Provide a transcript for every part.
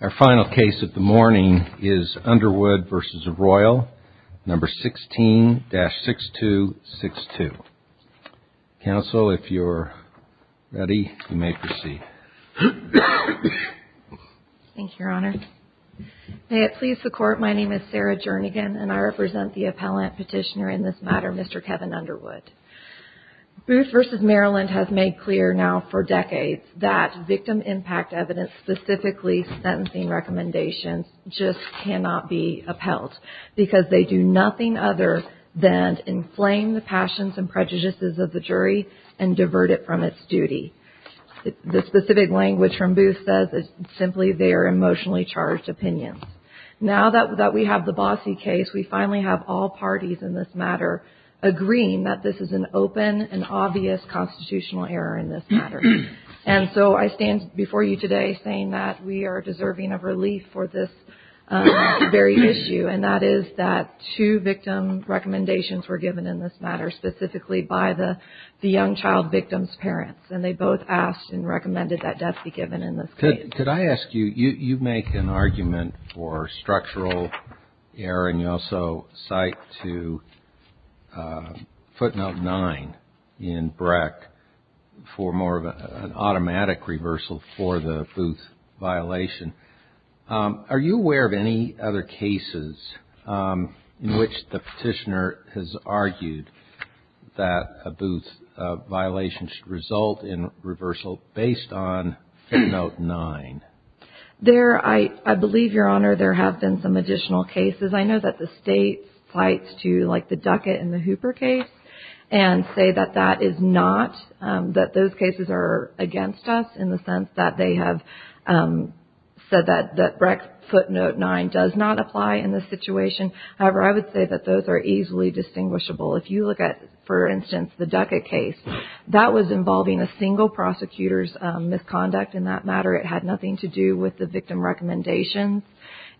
Our final case of the morning is Underwood v. Royal, No. 16-6262. Counsel, if you are ready, you may proceed. Thank you, Your Honor. May it please the Court, my name is Sarah Jernigan, and I represent the appellant petitioner in this matter, Mr. Kevin Underwood. Booth v. Maryland has made clear now for decades that victim impact evidence, specifically sentencing recommendations, just cannot be upheld because they do nothing other than inflame the passions and prejudices of the jury and divert it from its duty. The specific language from Booth says it's simply their emotionally charged opinions. Now that we have the bossy case, we finally have all parties in this matter agreeing that this is an open and obvious constitutional error in this matter. And so I stand before you today saying that we are deserving of relief for this very issue, and that is that two victim recommendations were both asked and recommended that death be given in this case. Could I ask you, you make an argument for structural error, and you also cite to footnote 9 in Breck for more of an automatic reversal for the Booth violation. Are you aware of any other cases in which the petitioner has argued that a Booth violation should result in reversal based on footnote 9? There, I believe, Your Honor, there have been some additional cases. I know that the State cites to, like, the Duckett and the Hooper case and say that that is not, that those cases are against us in the sense that they have said that Breck's footnote 9 does not apply in this situation. However, I would say that those are easily distinguishable. If you look at, for instance, the Duckett case, that was involving a single prosecutor's misconduct in that matter. It had nothing to do with the victim recommendations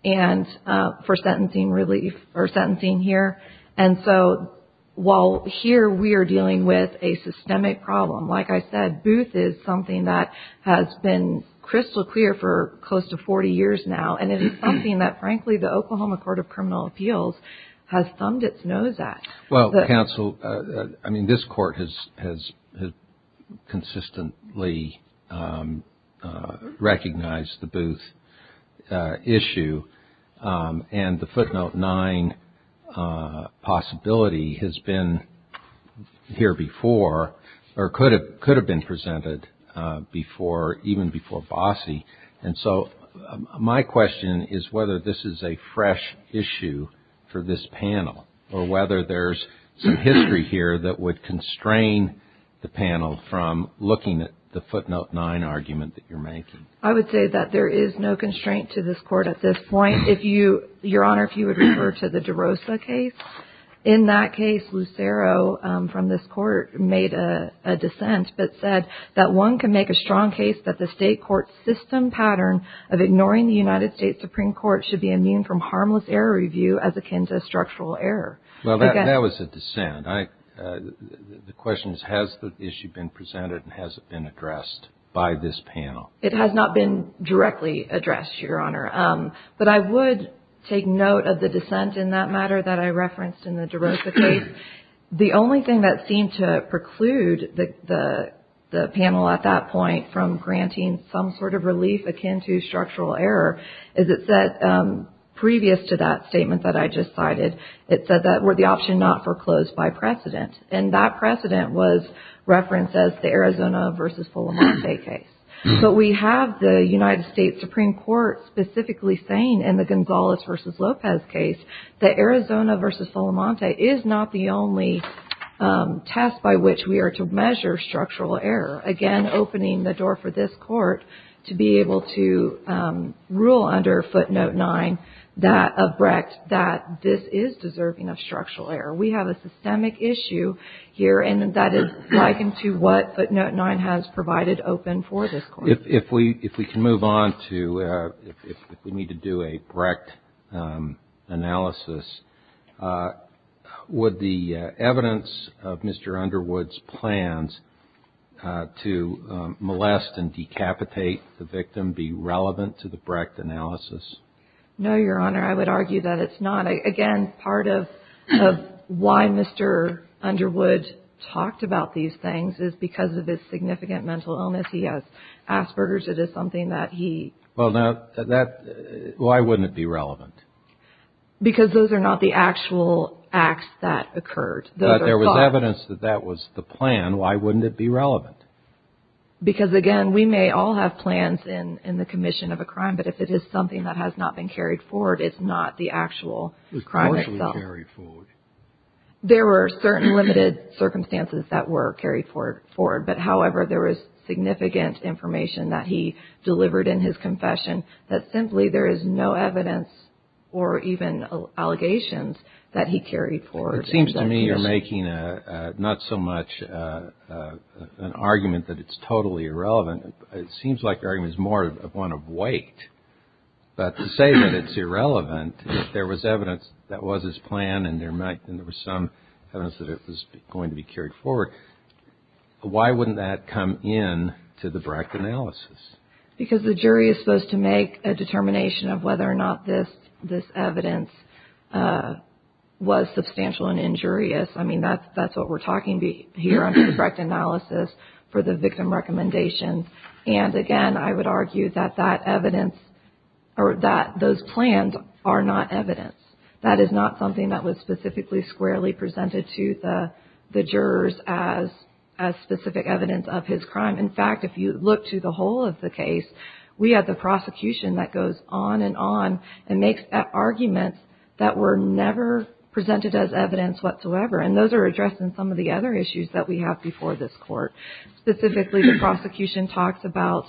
and for sentencing relief or sentencing here. And so, while here we are dealing with a systemic problem, like I said, Booth is something that has been crystal clear for close to 40 years now. And it is something that, frankly, the Oklahoma Court of Criminal Appeals has thumbed its nose at. Well, counsel, I mean, this court has consistently recognized the Booth issue. And the footnote 9 possibility has been here before or could have been presented before, even before Bossie. And so, my question is whether this is a fresh issue for this panel or whether there's some history here that would constrain the panel from looking at the footnote 9 argument that you're making. I would say that there is no constraint to this court at this point. If you, Your Honor, if you would refer to the DeRosa case. In that case, Lucero from this court made a dissent but said that one can make a strong case that the state court's system pattern of ignoring the United States Supreme Court should be immune from harmless error review as akin to structural error. Well, that was a dissent. The question is, has the issue been presented and has it been addressed by this panel? It has not been directly addressed, Your Honor. But I would take note of the dissent in that matter that I referenced in the DeRosa case. The only thing that seemed to preclude the panel at that point from granting some sort of relief akin to structural error is it said, previous to that statement that I just cited, it said that we're the option not foreclosed by precedent. And that precedent was referenced as the Arizona versus Fulham State case. But we have the United States Supreme Court specifically saying in the Gonzalez versus Lopez case that Arizona versus Fulham State is not the only test by which we are to measure structural error. Again, opening the door for this court to be able to rule under footnote 9 of Brecht that this is deserving of structural error. We have a systemic issue here, and that is likened to what footnote 9 has provided open for this court. If we can move on to, if we need to do a Brecht analysis, would the evidence of Mr. Underwood's plans to molest and decapitate the victim be relevant to the Brecht analysis? No, Your Honor. I would argue that it's not. Again, part of why Mr. Underwood talked about these things is because of his significant mental illness. He has Asperger's. It is something that he. Well, now, that, why wouldn't it be relevant? Because those are not the actual acts that occurred. But there was evidence that that was the plan. Why wouldn't it be relevant? Because, again, we may all have plans in the commission of a crime, but if it is something that has not been carried forward, it's not the actual crime itself. It was partially carried forward. There were certain limited circumstances that were carried forward, but, however, there was significant information that he delivered in his confession that simply there is no evidence or even allegations that he carried forward. It seems to me you're making not so much an argument that it's totally irrelevant. It seems like your argument is more one of weight. But to say that it's irrelevant, there was evidence that was his plan and there was some evidence that it was going to be carried forward, why wouldn't that come in to the Brecht analysis? Because the jury is supposed to make a determination of whether or not this evidence was substantial and injurious. I mean, that's what we're talking here under the Brecht analysis for the victim recommendations. And, again, I would argue that that evidence or that those plans are not evidence. That is not something that was specifically squarely presented to the jurors as specific evidence of his crime. In fact, if you look to the whole of the case, we have the prosecution that goes on and on and makes arguments that were never presented as evidence whatsoever. And those are addressed in some of the other issues that we have before this court. Specifically, the prosecution talks about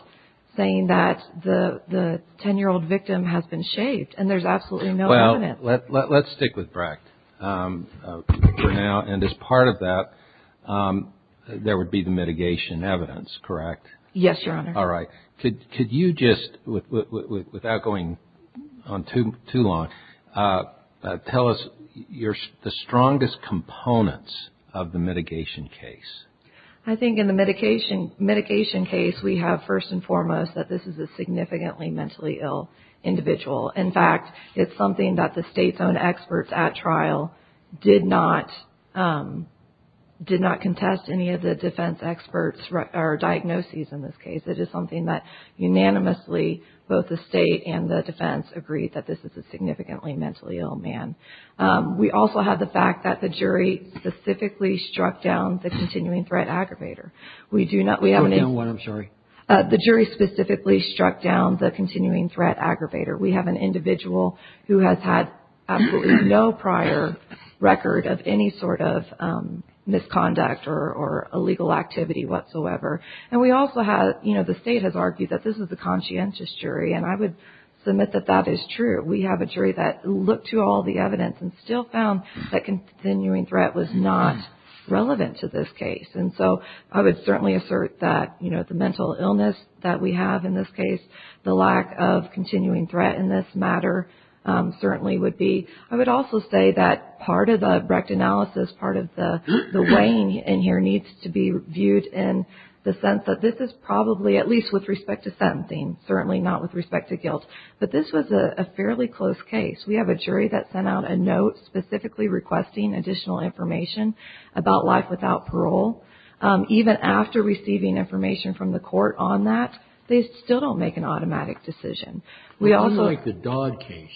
saying that the 10-year-old victim has been shaved and there's absolutely no evidence. Let's stick with Brecht for now. And as part of that, there would be the mitigation evidence, correct? Yes, Your Honor. All right. Could you just, without going on too long, tell us the strongest components of the mitigation case? I think in the mitigation case, we have first and foremost that this is a significantly mentally ill individual. In fact, it's something that the State's own experts at trial did not contest any of the defense experts' diagnoses in this case. It is something that unanimously both the State and the defense agreed that this is a significantly mentally ill man. We also have the fact that the jury specifically struck down the continuing threat aggravator. We have an individual who has had absolutely no prior record of any sort of misconduct or illegal activity whatsoever. And we also have, you know, the State has argued that this is a conscientious jury. And I would submit that that is true. We have a jury that looked to all the evidence and still found that continuing threat was not relevant to this case. And so I would certainly assert that, you know, the mental illness that we have in this case, the lack of continuing threat in this matter, certainly would be. I would also say that part of the Brecht analysis, part of the weighing in here needs to be viewed in the sense that this is probably, at least with respect to sentencing, certainly not with respect to guilt. But this was a fairly close case. We have a jury that sent out a note specifically requesting additional information about life without parole. Even after receiving information from the court on that, they still don't make an automatic decision. We also. I feel like the Dodd case,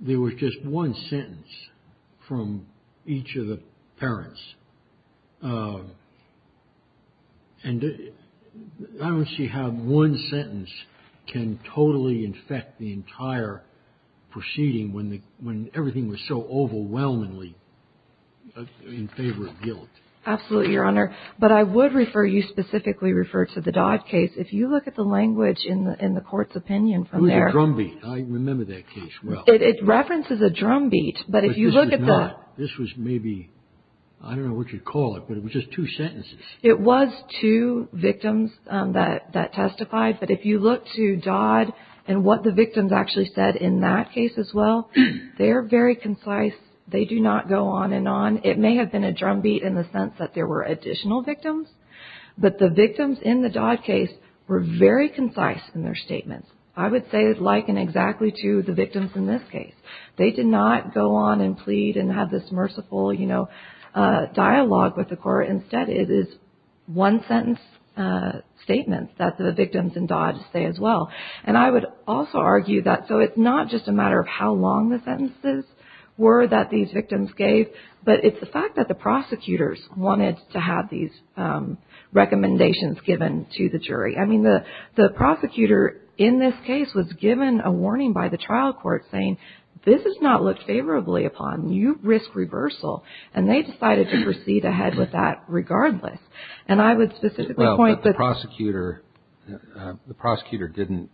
there was just one sentence from each of the parents. And I don't see how one sentence can totally infect the entire proceeding when everything was so overwhelmingly in favor of guilt. Absolutely, Your Honor. But I would refer you specifically refer to the Dodd case. If you look at the language in the court's opinion from there. It was a drumbeat. I remember that case well. It references a drumbeat. But if you look at the. This was maybe, I don't know what you'd call it, but it was just two sentences. It was two victims that testified. But if you look to Dodd and what the victims actually said in that case as well, they are very concise. They do not go on and on. It may have been a drumbeat in the sense that there were additional victims. But the victims in the Dodd case were very concise in their statements. I would say it likened exactly to the victims in this case. They did not go on and plead and have this merciful, you know, dialogue with the court. Instead, it is one sentence statements that the victims in Dodd say as well. And I would also argue that. So it's not just a matter of how long the sentences were that these victims gave. But it's the fact that the prosecutors wanted to have these recommendations given to the jury. I mean, the prosecutor in this case was given a warning by the trial court saying this is not looked favorably upon. You risk reversal. And they decided to proceed ahead with that regardless. And I would specifically point that. Well, but the prosecutor didn't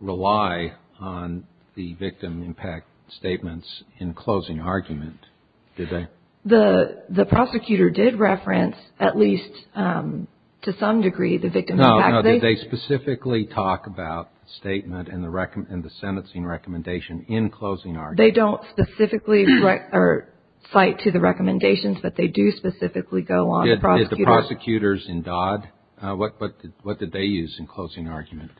rely on the victim impact statements in closing argument, did they? The prosecutor did reference, at least to some degree, the victim impact. No, no. Did they specifically talk about the statement and the sentencing recommendation in closing argument? They don't specifically cite to the recommendations, but they do specifically go on. Did the prosecutors in Dodd, what did they use in closing argument?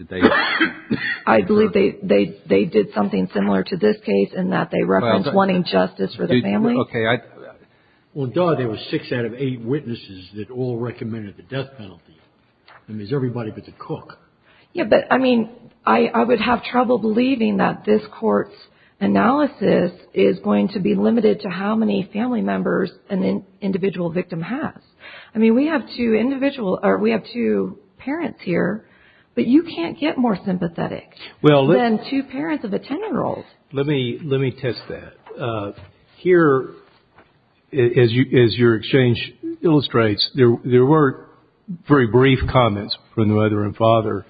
I believe they did something similar to this case in that they referenced wanting justice for the family. Well, in Dodd, there were six out of eight witnesses that all recommended the death penalty. I mean, is everybody but the cook. Yeah, but, I mean, I would have trouble believing that this court's analysis is going to be limited to how many family members an individual victim has. I mean, we have two parents here, but you can't get more sympathetic than two parents of a 10-year-old. Let me test that. Here, as your exchange illustrates, there were very brief comments from the mother and father,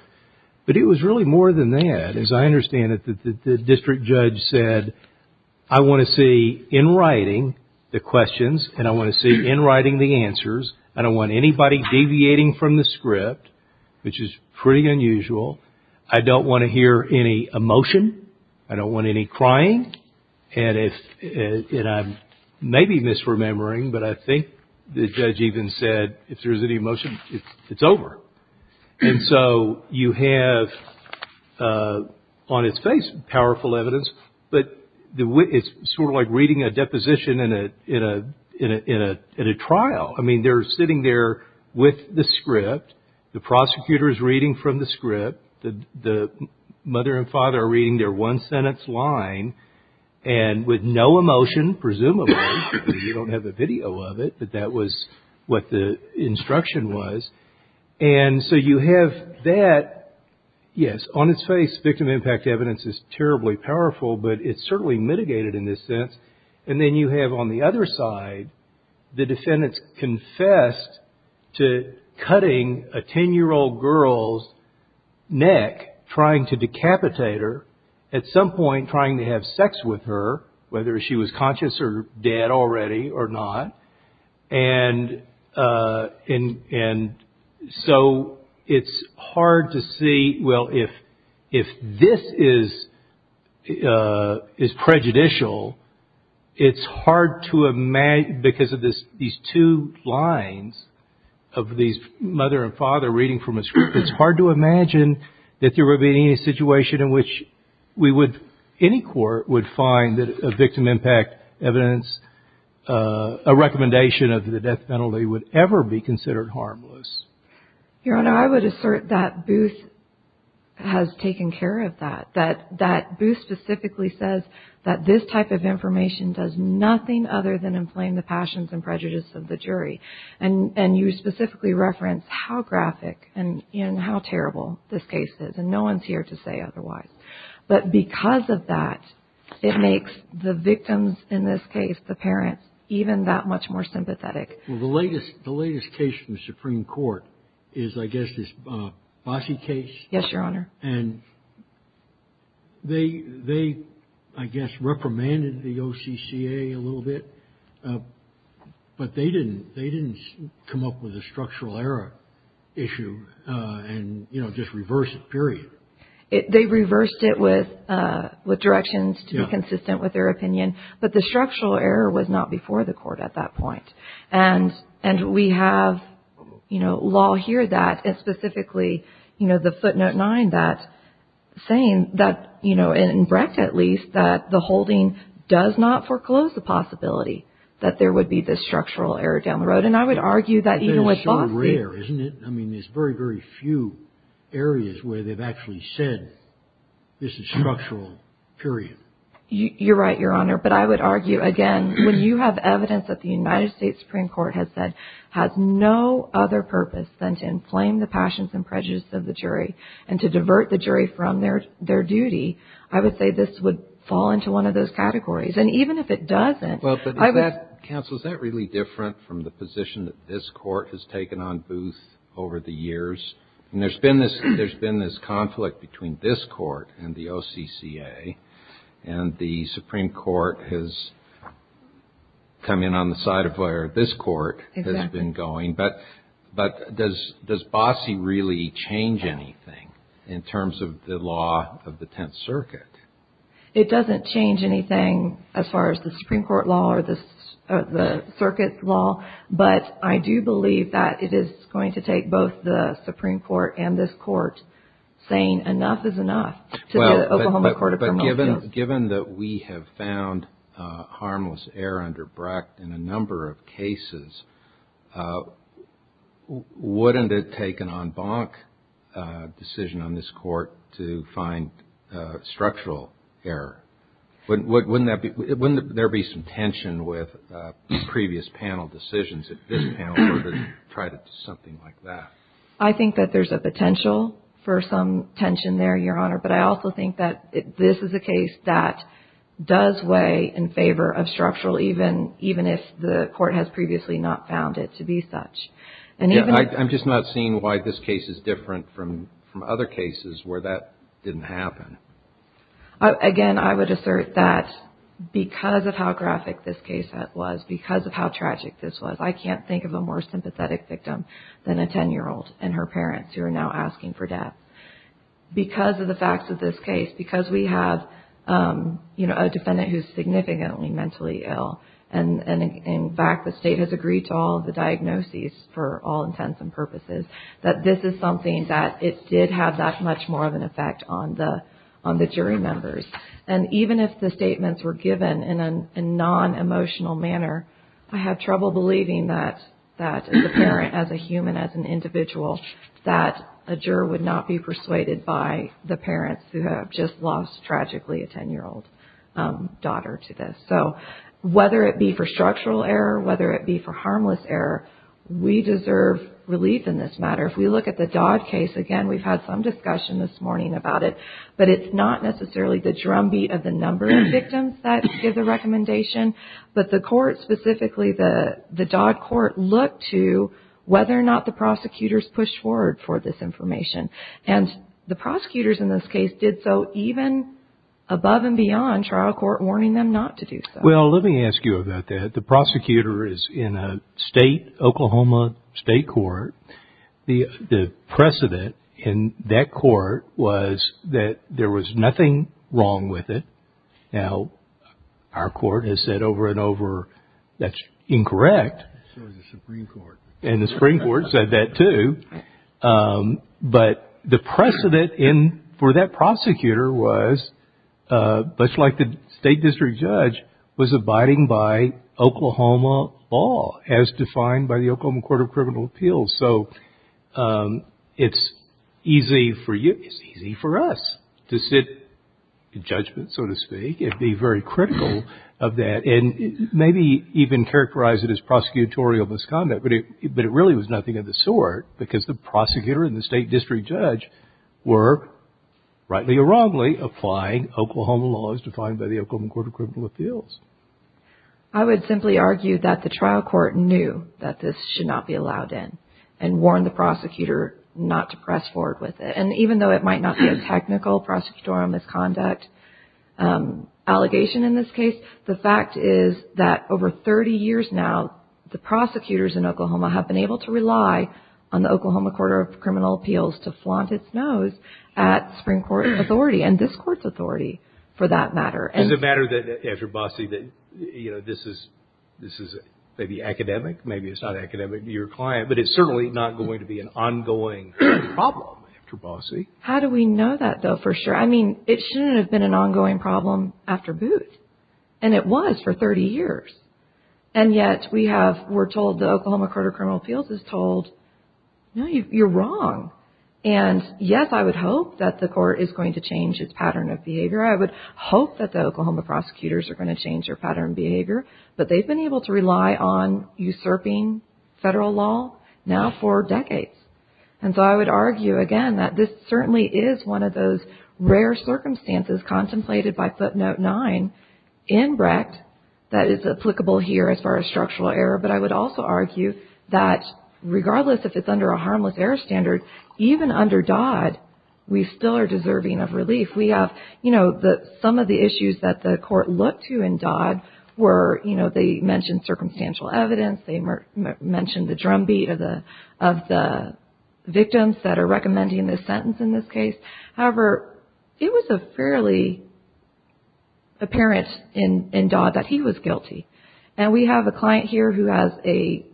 but it was really more than that. As I understand it, the district judge said, I want to see in writing the questions and I want to see in writing the answers. I don't want anybody deviating from the script, which is pretty unusual. I don't want to hear any emotion. I don't want any crying. And I may be misremembering, but I think the judge even said if there's any emotion, it's over. And so you have on its face powerful evidence, but it's sort of like reading a deposition in a trial. I mean, they're sitting there with the script. The prosecutor is reading from the script. The mother and father are reading their one-sentence line and with no emotion, presumably. You don't have a video of it, but that was what the instruction was. And so you have that. Yes, on its face, victim impact evidence is terribly powerful, but it's certainly mitigated in this sense. And then you have on the other side, the defendants confessed to cutting a 10-year-old girl's neck, trying to decapitate her, at some point trying to have sex with her, whether she was conscious or dead already or not. And so it's hard to see, well, if this is prejudicial, it's hard to imagine, because of these two lines of these mother and father reading from a script, it's hard to imagine that there would be any situation in which we would, if any court would find that a victim impact evidence, a recommendation of the death penalty, would ever be considered harmless. Your Honor, I would assert that Booth has taken care of that. That Booth specifically says that this type of information does nothing other than inflame the passions and prejudice of the jury. And you specifically reference how graphic and how terrible this case is. And no one's here to say otherwise. But because of that, it makes the victims in this case, the parents, even that much more sympathetic. Well, the latest case from the Supreme Court is, I guess, this Bossie case. Yes, Your Honor. And they, I guess, reprimanded the OCCA a little bit, but they didn't come up with a structural error issue and, you know, just reverse it, period. They reversed it with directions to be consistent with their opinion. But the structural error was not before the court at that point. And we have, you know, law here that specifically, you know, the footnote 9 that's saying that, you know, in Brecht at least, that the holding does not foreclose the possibility that there would be this structural error down the road. And I would argue that even with Bossie. I mean, there's very, very few areas where they've actually said this is structural, period. You're right, Your Honor. But I would argue, again, when you have evidence that the United States Supreme Court has said has no other purpose than to inflame the passions and prejudices of the jury and to divert the jury from their duty, I would say this would fall into one of those categories. And even if it doesn't. Well, but counsel, is that really different from the position that this court has taken on Booth over the years? And there's been this conflict between this court and the OCCA. And the Supreme Court has come in on the side of where this court has been going. But does Bossie really change anything in terms of the law of the Tenth Circuit? It doesn't change anything as far as the Supreme Court law or the circuit law. But I do believe that it is going to take both the Supreme Court and this court saying enough is enough to the Oklahoma Court of Promotions. Given that we have found harmless error under Brecht in a number of cases, wouldn't it take an en banc decision on this court to find structural error? Wouldn't there be some tension with previous panel decisions if this panel were to try to do something like that? I think that there's a potential for some tension there, Your Honor. But I also think that this is a case that does weigh in favor of structural even if the court has previously not found it to be such. I'm just not seeing why this case is different from other cases where that didn't happen. Again, I would assert that because of how graphic this case was, because of how tragic this was, I can't think of a more sympathetic victim than a 10-year-old and her parents who are now asking for death. Because of the facts of this case, because we have a defendant who is significantly mentally ill, and in fact the State has agreed to all of the diagnoses for all intents and purposes, that this is something that it did have that much more of an effect on the jury members. And even if the statements were given in a non-emotional manner, I have trouble believing that as a parent, as a human, as an individual, that a juror would not be persuaded by the parents who have just lost, tragically, a 10-year-old daughter to this. So whether it be for structural error, whether it be for harmless error, we deserve relief in this matter. If we look at the Dodd case again, we've had some discussion this morning about it, but it's not necessarily the drumbeat of the number of victims that give the recommendation. But the court specifically, the Dodd court, looked to whether or not the prosecutors pushed forward for this information. And the prosecutors in this case did so even above and beyond trial court warning them not to do so. Well, let me ask you about that. The prosecutor is in a state, Oklahoma state court. The precedent in that court was that there was nothing wrong with it. Now, our court has said over and over that's incorrect. So has the Supreme Court. And the Supreme Court said that, too. But the precedent for that prosecutor was, much like the state district judge, was abiding by Oklahoma law as defined by the Oklahoma Court of Criminal Appeals. So it's easy for us to sit in judgment, so to speak, and be very critical of that, and maybe even characterize it as prosecutorial misconduct. But it really was nothing of the sort because the prosecutor and the state district judge were, rightly or wrongly, applying Oklahoma laws defined by the Oklahoma Court of Criminal Appeals. I would simply argue that the trial court knew that this should not be allowed in and warned the prosecutor not to press forward with it. And even though it might not be a technical prosecutorial misconduct allegation in this case, the fact is that over 30 years now, the prosecutors in Oklahoma have been able to rely on the Oklahoma Court of Criminal Appeals to flaunt its nose at Supreme Court authority and this Court's authority for that matter. Is it a matter, after Bossie, that this is maybe academic? Maybe it's not academic to your client, but it's certainly not going to be an ongoing problem after Bossie. How do we know that, though, for sure? I mean, it shouldn't have been an ongoing problem after Booth. And it was for 30 years. And yet we're told the Oklahoma Court of Criminal Appeals is told, no, you're wrong. And yes, I would hope that the Court is going to change its pattern of behavior. I would hope that the Oklahoma prosecutors are going to change their pattern of behavior. But they've been able to rely on usurping federal law now for decades. And so I would argue, again, that this certainly is one of those rare circumstances contemplated by Footnote 9 in Brecht that is applicable here as far as structural error. But I would also argue that regardless if it's under a harmless error standard, if we have, you know, some of the issues that the Court looked to in Dodd were, you know, they mentioned circumstantial evidence. They mentioned the drumbeat of the victims that are recommending this sentence in this case. However, it was a fairly apparent in Dodd that he was guilty. And we have a client here who has a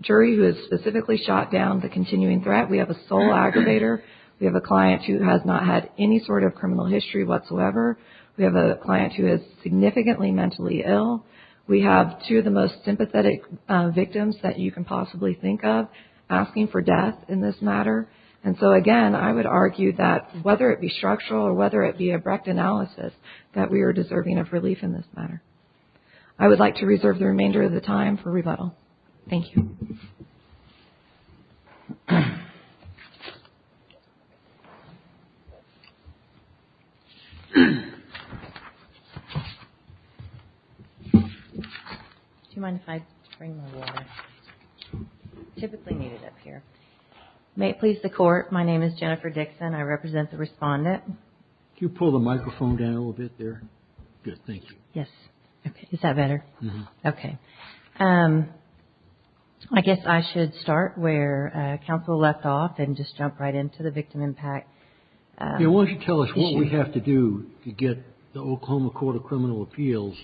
jury who has specifically shot down the continuing threat. We have a sole aggravator. We have a client who has not had any sort of criminal history whatsoever. We have a client who is significantly mentally ill. We have two of the most sympathetic victims that you can possibly think of asking for death in this matter. And so, again, I would argue that whether it be structural or whether it be a Brecht analysis, that we are deserving of relief in this matter. I would like to reserve the remainder of the time for rebuttal. Thank you. Do you mind if I bring my water? I typically need it up here. May it please the Court, my name is Jennifer Dixon. I represent the Respondent. Could you pull the microphone down a little bit there? Good. Thank you. Yes. Is that better? Yes. Okay. I guess I should start where counsel left off and just jump right into the victim impact. Yes. Why don't you tell us what we have to do to get the Oklahoma Court of Criminal Appeals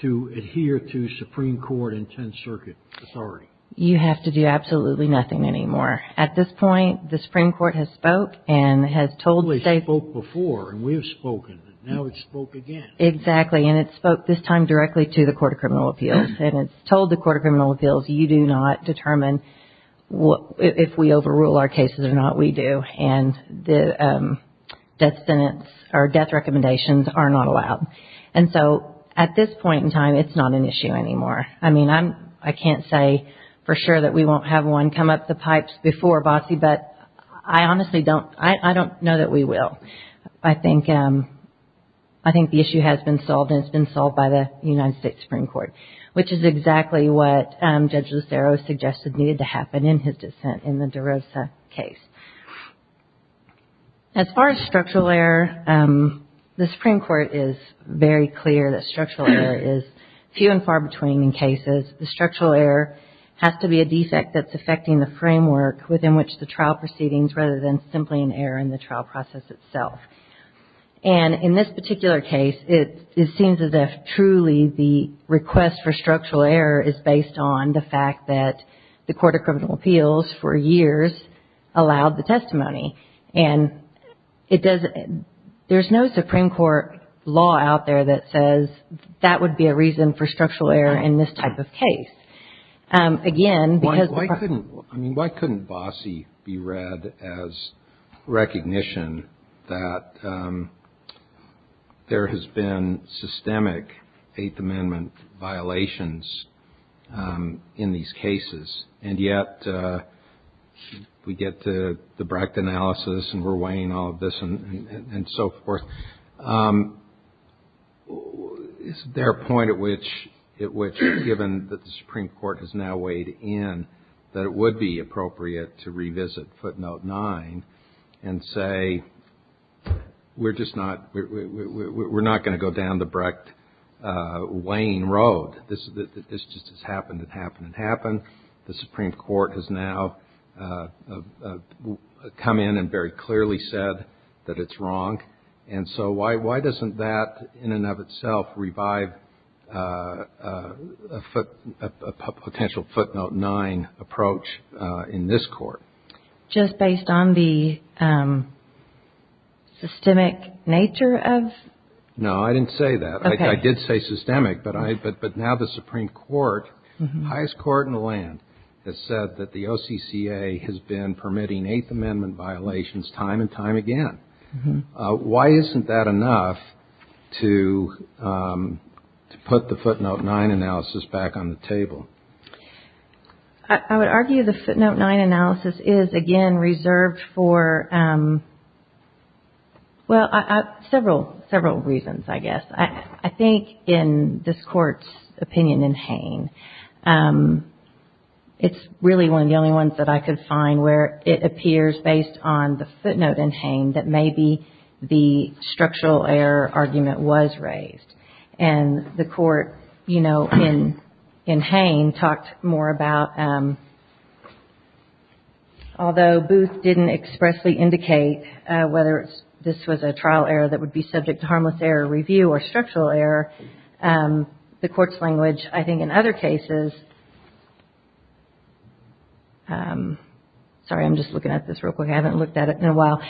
to adhere to Supreme Court and Tenth Circuit authority? You have to do absolutely nothing anymore. At this point, the Supreme Court has spoke and has told states. It spoke before and we have spoken. Now it spoke again. Exactly. And it spoke this time directly to the Court of Criminal Appeals. And it's told the Court of Criminal Appeals, you do not determine if we overrule our cases or not. We do. And the death sentence or death recommendations are not allowed. And so, at this point in time, it's not an issue anymore. I mean, I can't say for sure that we won't have one come up the pipes before, Bossie, but I honestly don't know that we will. I think the issue has been solved and it's been solved by the United States Supreme Court, which is exactly what Judge Lucero suggested needed to happen in his dissent in the DeRosa case. As far as structural error, the Supreme Court is very clear that structural error is few and far between in cases. The structural error has to be a defect that's affecting the framework within which the trial proceedings, rather than simply an error in the trial process itself. And in this particular case, it seems as if truly the request for structural error is based on the fact that the Court of Criminal Appeals, for years, allowed the testimony. And there's no Supreme Court law out there that says that would be a reason for structural error in this type of case. Why couldn't Bossie be read as recognition that there has been systemic Eighth Amendment violations in these cases, and yet we get the Brecht analysis and we're weighing all of this and so forth? Is there a point at which, given that the Supreme Court has now weighed in, that it would be appropriate to revisit footnote nine and say, we're just not going to go down the Brecht weighing road. This just has happened and happened and happened. The Supreme Court has now come in and very clearly said that it's wrong. And so why doesn't that, in and of itself, revive a potential footnote nine approach in this court? Just based on the systemic nature of? No, I didn't say that. I did say systemic, but now the Supreme Court, highest court in the land, has said that the OCCA has been permitting Eighth Amendment violations time and time again. Why isn't that enough to put the footnote nine analysis back on the table? I would argue the footnote nine analysis is, again, reserved for several reasons, I guess. I think in this Court's opinion in Hain, it's really one of the only ones that I could find where it appears based on the footnote in Hain that maybe the structural error argument was raised. And the Court, you know, in Hain talked more about, although Booth didn't expressly indicate whether this was a trial error that would be subject to harmless error review or structural error, the Court's language, I think in other cases, sorry, I'm just looking at this real quick, I haven't looked at it in a while.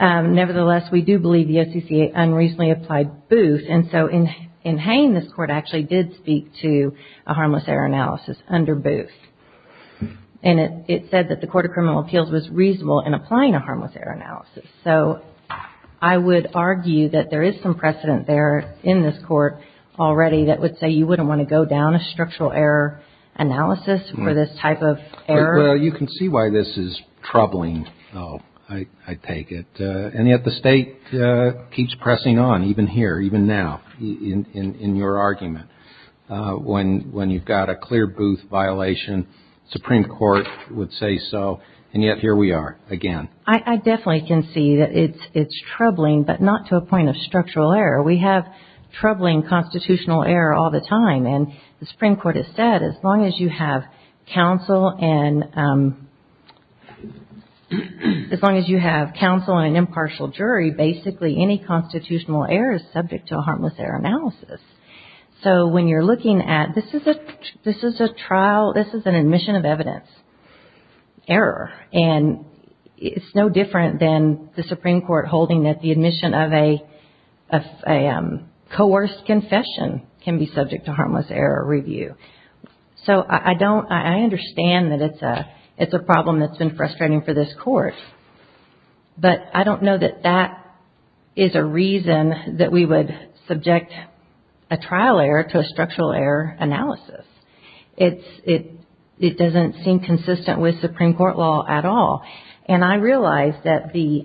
Nevertheless, we do believe the OCCA unreasonably applied Booth. And so in Hain, this Court actually did speak to a harmless error analysis under Booth. And it said that the Court of Criminal Appeals was reasonable in applying a harmless error analysis. So I would argue that there is some precedent there in this Court already that would say you wouldn't want to go down a structural error analysis for this type of error. Well, you can see why this is troubling, I take it. And yet the State keeps pressing on, even here, even now, in your argument. When you've got a clear Booth violation, Supreme Court would say so. And yet here we are again. I definitely can see that it's troubling, but not to a point of structural error. We have troubling constitutional error all the time. And the Supreme Court has said as long as you have counsel and an impartial jury, basically any constitutional error is subject to a harmless error analysis. So when you're looking at, this is a trial, this is an admission of evidence error. And it's no different than the Supreme Court holding that the admission of a coerced confession can be subject to harmless error review. So I don't, I understand that it's a problem that's been frustrating for this Court. But I don't know that that is a reason that we would subject a trial error to a structural error analysis. It doesn't seem consistent with Supreme Court law at all. And I realize that the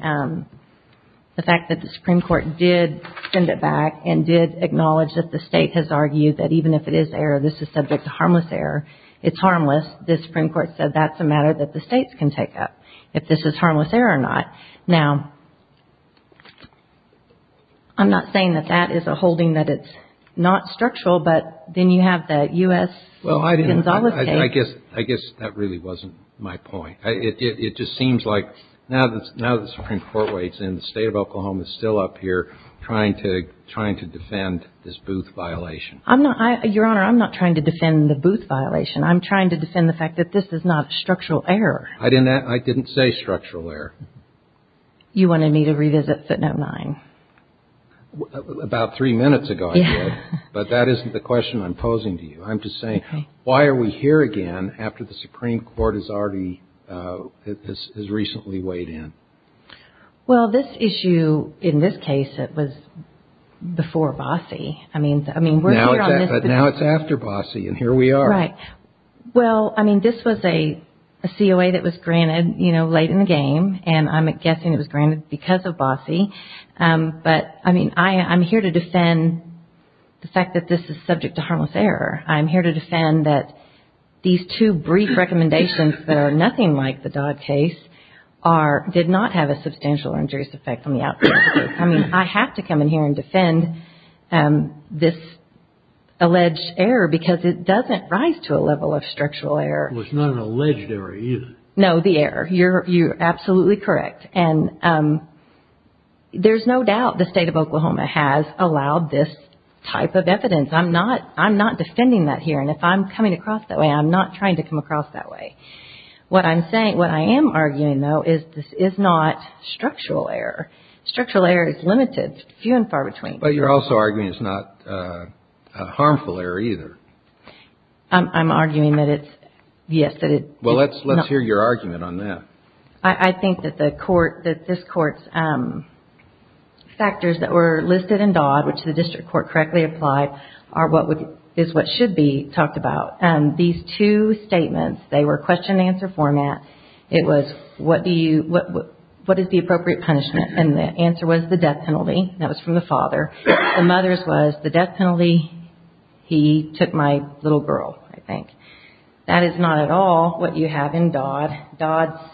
fact that the Supreme Court did send it back and did acknowledge that the State has argued that even if it is error, this is subject to harmless error. It's harmless. The Supreme Court said that's a matter that the States can take up. If this is harmless error or not. Now, I'm not saying that that is a holding that it's not structural. But then you have the U.S. case. Well, I guess that really wasn't my point. It just seems like now the Supreme Court waits and the State of Oklahoma is still up here trying to defend this Booth violation. Your Honor, I'm not trying to defend the Booth violation. I'm trying to defend the fact that this is not a structural error. I didn't say structural error. You wanted me to revisit 509. About three minutes ago, I did. But that isn't the question I'm posing to you. I'm just saying, why are we here again after the Supreme Court has already, has recently weighed in? Well, this issue, in this case, it was before Bossie. I mean, we're here on this. But now it's after Bossie and here we are. Right. Well, I mean, this was a COA that was granted, you know, late in the game. And I'm guessing it was granted because of Bossie. But, I mean, I'm here to defend the fact that this is subject to harmless error. I'm here to defend that these two brief recommendations that are nothing like the Dodd case are, did not have a substantial injurious effect on the outcome. I mean, I have to come in here and defend this alleged error because it doesn't rise to a level of structural error. Well, it's not an alleged error either. No, the error. You're absolutely correct. And there's no doubt the state of Oklahoma has allowed this type of evidence. I'm not defending that here. And if I'm coming across that way, I'm not trying to come across that way. What I'm saying, what I am arguing, though, is this is not structural error. Structural error is limited, few and far between. But you're also arguing it's not a harmful error either. I'm arguing that it's, yes, that it's not. Well, let's hear your argument on that. I think that this Court's factors that were listed in Dodd, which the district court correctly applied, is what should be talked about. These two statements, they were question and answer format. It was what is the appropriate punishment? And the answer was the death penalty. That was from the father. The mother's was the death penalty, he took my little girl, I think. That is not at all what you have in Dodd. Dodd's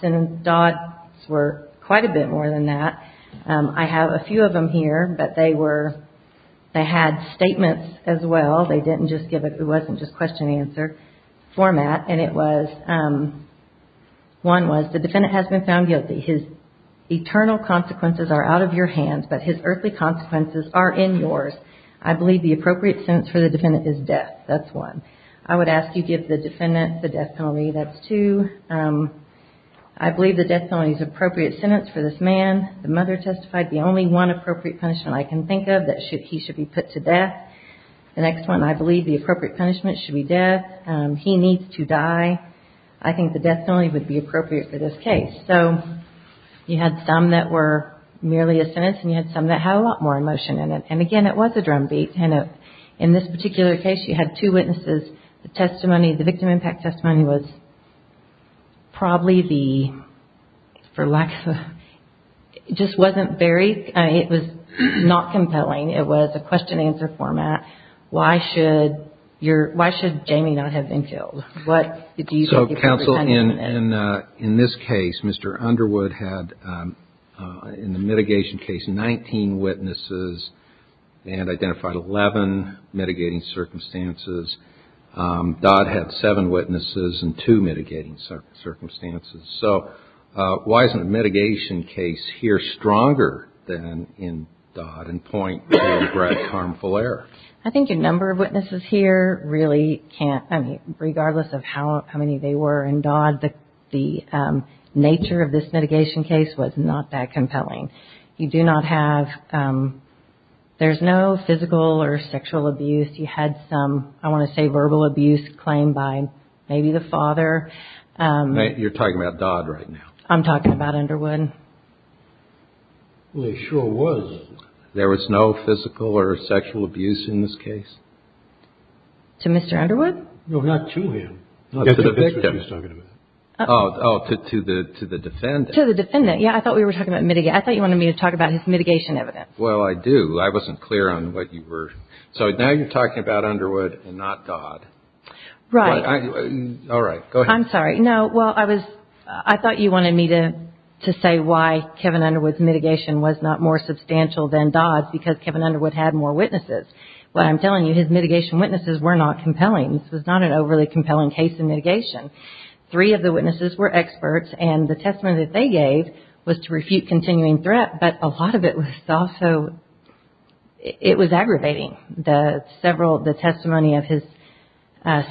were quite a bit more than that. I have a few of them here, but they were, they had statements as well. They didn't just give a, it wasn't just question and answer format. And it was, one was the defendant has been found guilty. His eternal consequences are out of your hands, but his earthly consequences are in yours. I believe the appropriate sentence for the defendant is death. That's one. I would ask you give the defendant the death penalty. That's two. I believe the death penalty is the appropriate sentence for this man. The mother testified the only one appropriate punishment I can think of that he should be put to death. The next one, I believe the appropriate punishment should be death. He needs to die. I think the death penalty would be appropriate for this case. So, you had some that were merely a sentence, and you had some that had a lot more emotion in it. And again, it was a drumbeat. And in this particular case, you had two witnesses. The testimony, the victim impact testimony was probably the, for lack of, it just wasn't very, it was not compelling. It was a question-answer format. Why should your, why should Jamie not have been killed? What do you think the appropriate punishment is? So, counsel, in this case, Mr. Underwood had, in the mitigation case, 19 witnesses and identified 11 mitigating circumstances. Dodd had seven witnesses and two mitigating circumstances. So, why isn't the mitigation case here stronger than in Dodd and point to Brett Karmfuller? I think a number of witnesses here really can't, I mean, regardless of how many they were in Dodd, the nature of this mitigation case was not that compelling. You do not have, there's no physical or sexual abuse. You had some, I want to say verbal abuse claimed by maybe the father. You're talking about Dodd right now. I'm talking about Underwood. Well, there sure was. There was no physical or sexual abuse in this case? To Mr. Underwood? No, not to him. To the victim. Oh, to the defendant. To the defendant. Yeah, I thought we were talking about mitigation. I thought you wanted me to talk about mitigation evidence. Well, I do. I wasn't clear on what you were. So, now you're talking about Underwood and not Dodd. Right. All right. Go ahead. I'm sorry. No, well, I thought you wanted me to say why Kevin Underwood's mitigation was not more substantial than Dodd's because Kevin Underwood had more witnesses. What I'm telling you, his mitigation witnesses were not compelling. This was not an overly compelling case in mitigation. Three of the witnesses were experts, and the testimony that they gave was to refute continuing threat, but a lot of it was also, it was aggravating. The several, the testimony of his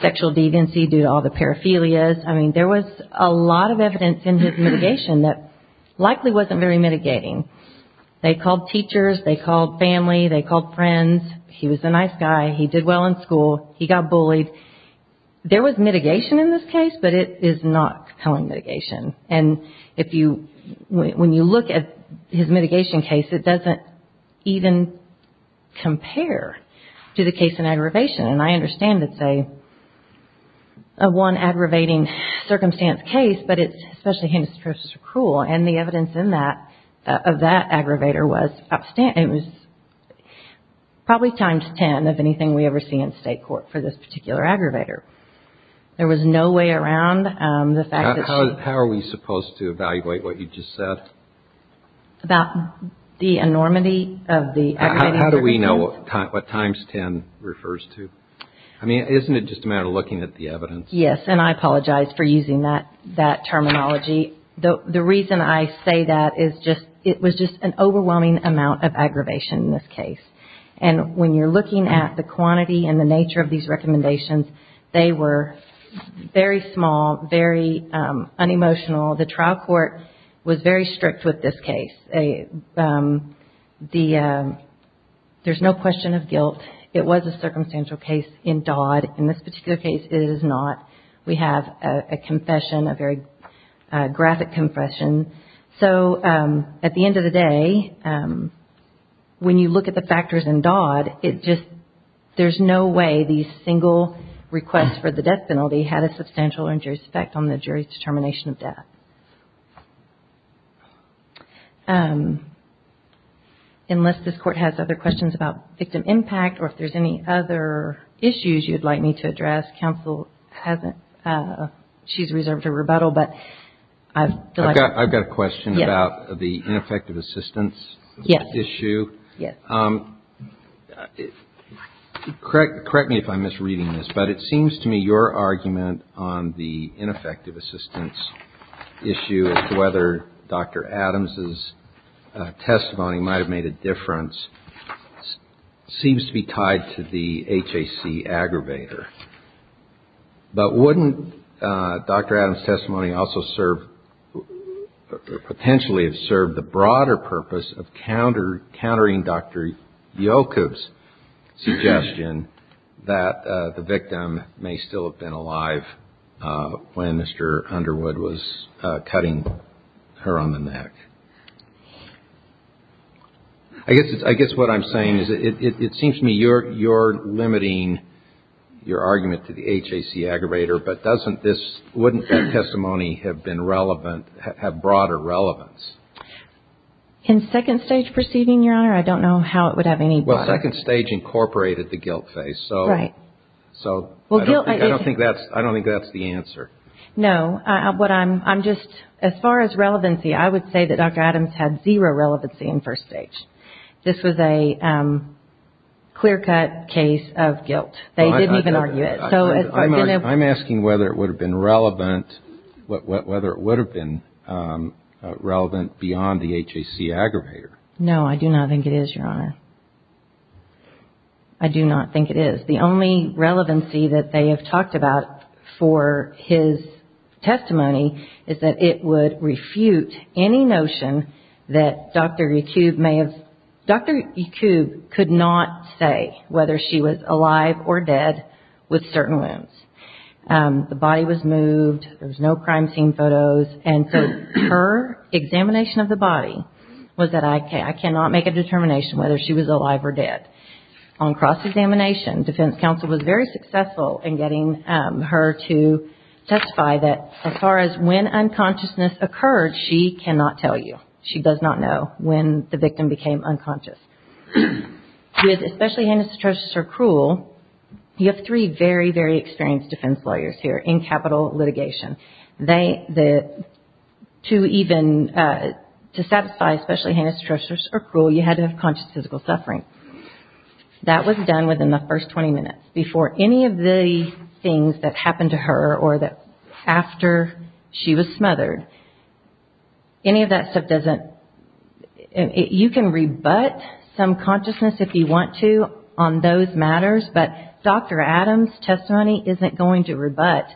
sexual deviancy due to all the paraphilias. I mean, there was a lot of evidence in his mitigation that likely wasn't very mitigating. They called teachers. They called family. They called friends. He was a nice guy. He did well in school. He got bullied. There was mitigation in this case, but it is not compelling mitigation. And if you, when you look at his mitigation case, it doesn't even compare to the case in aggravation. And I understand it's a one aggravating circumstance case, but it's especially handicapped versus cruel. And the evidence in that, of that aggravator was probably times ten of anything we ever see in state court for this particular aggravator. There was no way around the fact that she How are we supposed to evaluate what you just said? About the enormity of the aggravating circumstances? How do we know what times ten refers to? I mean, isn't it just a matter of looking at the evidence? Yes, and I apologize for using that terminology. The reason I say that is just, it was just an overwhelming amount of aggravation in this case. And when you're looking at the quantity and the nature of these recommendations, they were very small, very unemotional. The trial court was very strict with this case. There's no question of guilt. It was a circumstantial case in Dodd. In this particular case, it is not. We have a confession, a very graphic confession. So at the end of the day, when you look at the factors in Dodd, it just, there's no way these single requests for the death penalty had a substantial injurious effect on the jury's determination of death. Unless this Court has other questions about victim impact or if there's any other issues you'd like me to address, counsel hasn't, she's reserved for rebuttal, but I feel like I've got a question about the ineffective assistance issue. Yes. Correct me if I'm misreading this, but it seems to me your argument on the ineffective assistance issue as to whether Dr. Adams' testimony might have made a difference seems to be tied to the HAC aggravator. But wouldn't Dr. Adams' testimony also serve, potentially have served the broader purpose of countering Dr. Jokub's suggestion that the victim may still have been alive when Mr. Underwood was cutting her on the neck? I guess what I'm saying is it seems to me you're limiting your argument to the HAC aggravator, but doesn't this, wouldn't that testimony have been relevant, have broader relevance? In second stage proceeding, Your Honor, I don't know how it would have any... Well, second stage incorporated the guilt phase, so... Right. So I don't think that's the answer. No. What I'm, I'm just, as far as relevancy, I would say that Dr. Adams had zero relevancy in first stage. This was a clear-cut case of guilt. They didn't even argue it. I'm asking whether it would have been relevant, whether it would have been relevant beyond the HAC aggravator. No, I do not think it is, Your Honor. I do not think it is. The only relevancy that they have talked about for his testimony is that it would refute any notion that Dr. Yacoub may have... Dr. Yacoub could not say whether she was alive or dead with certain wounds. The body was moved. There was no crime scene photos. And so her examination of the body was that I cannot make a determination whether she was alive or dead. On cross-examination, defense counsel was very successful in getting her to testify that as far as when unconsciousness occurred, she cannot tell you. She does not know when the victim became unconscious. With especially heinous atrocious or cruel, you have three very, very experienced defense lawyers here in capital litigation. To satisfy especially heinous atrocious or cruel, you had to have conscious physical suffering. That was done within the first 20 minutes. Before any of the things that happened to her or after she was smothered, any of that stuff doesn't... You can rebut some consciousness if you want to on those matters, but Dr. Adams' testimony isn't going to rebut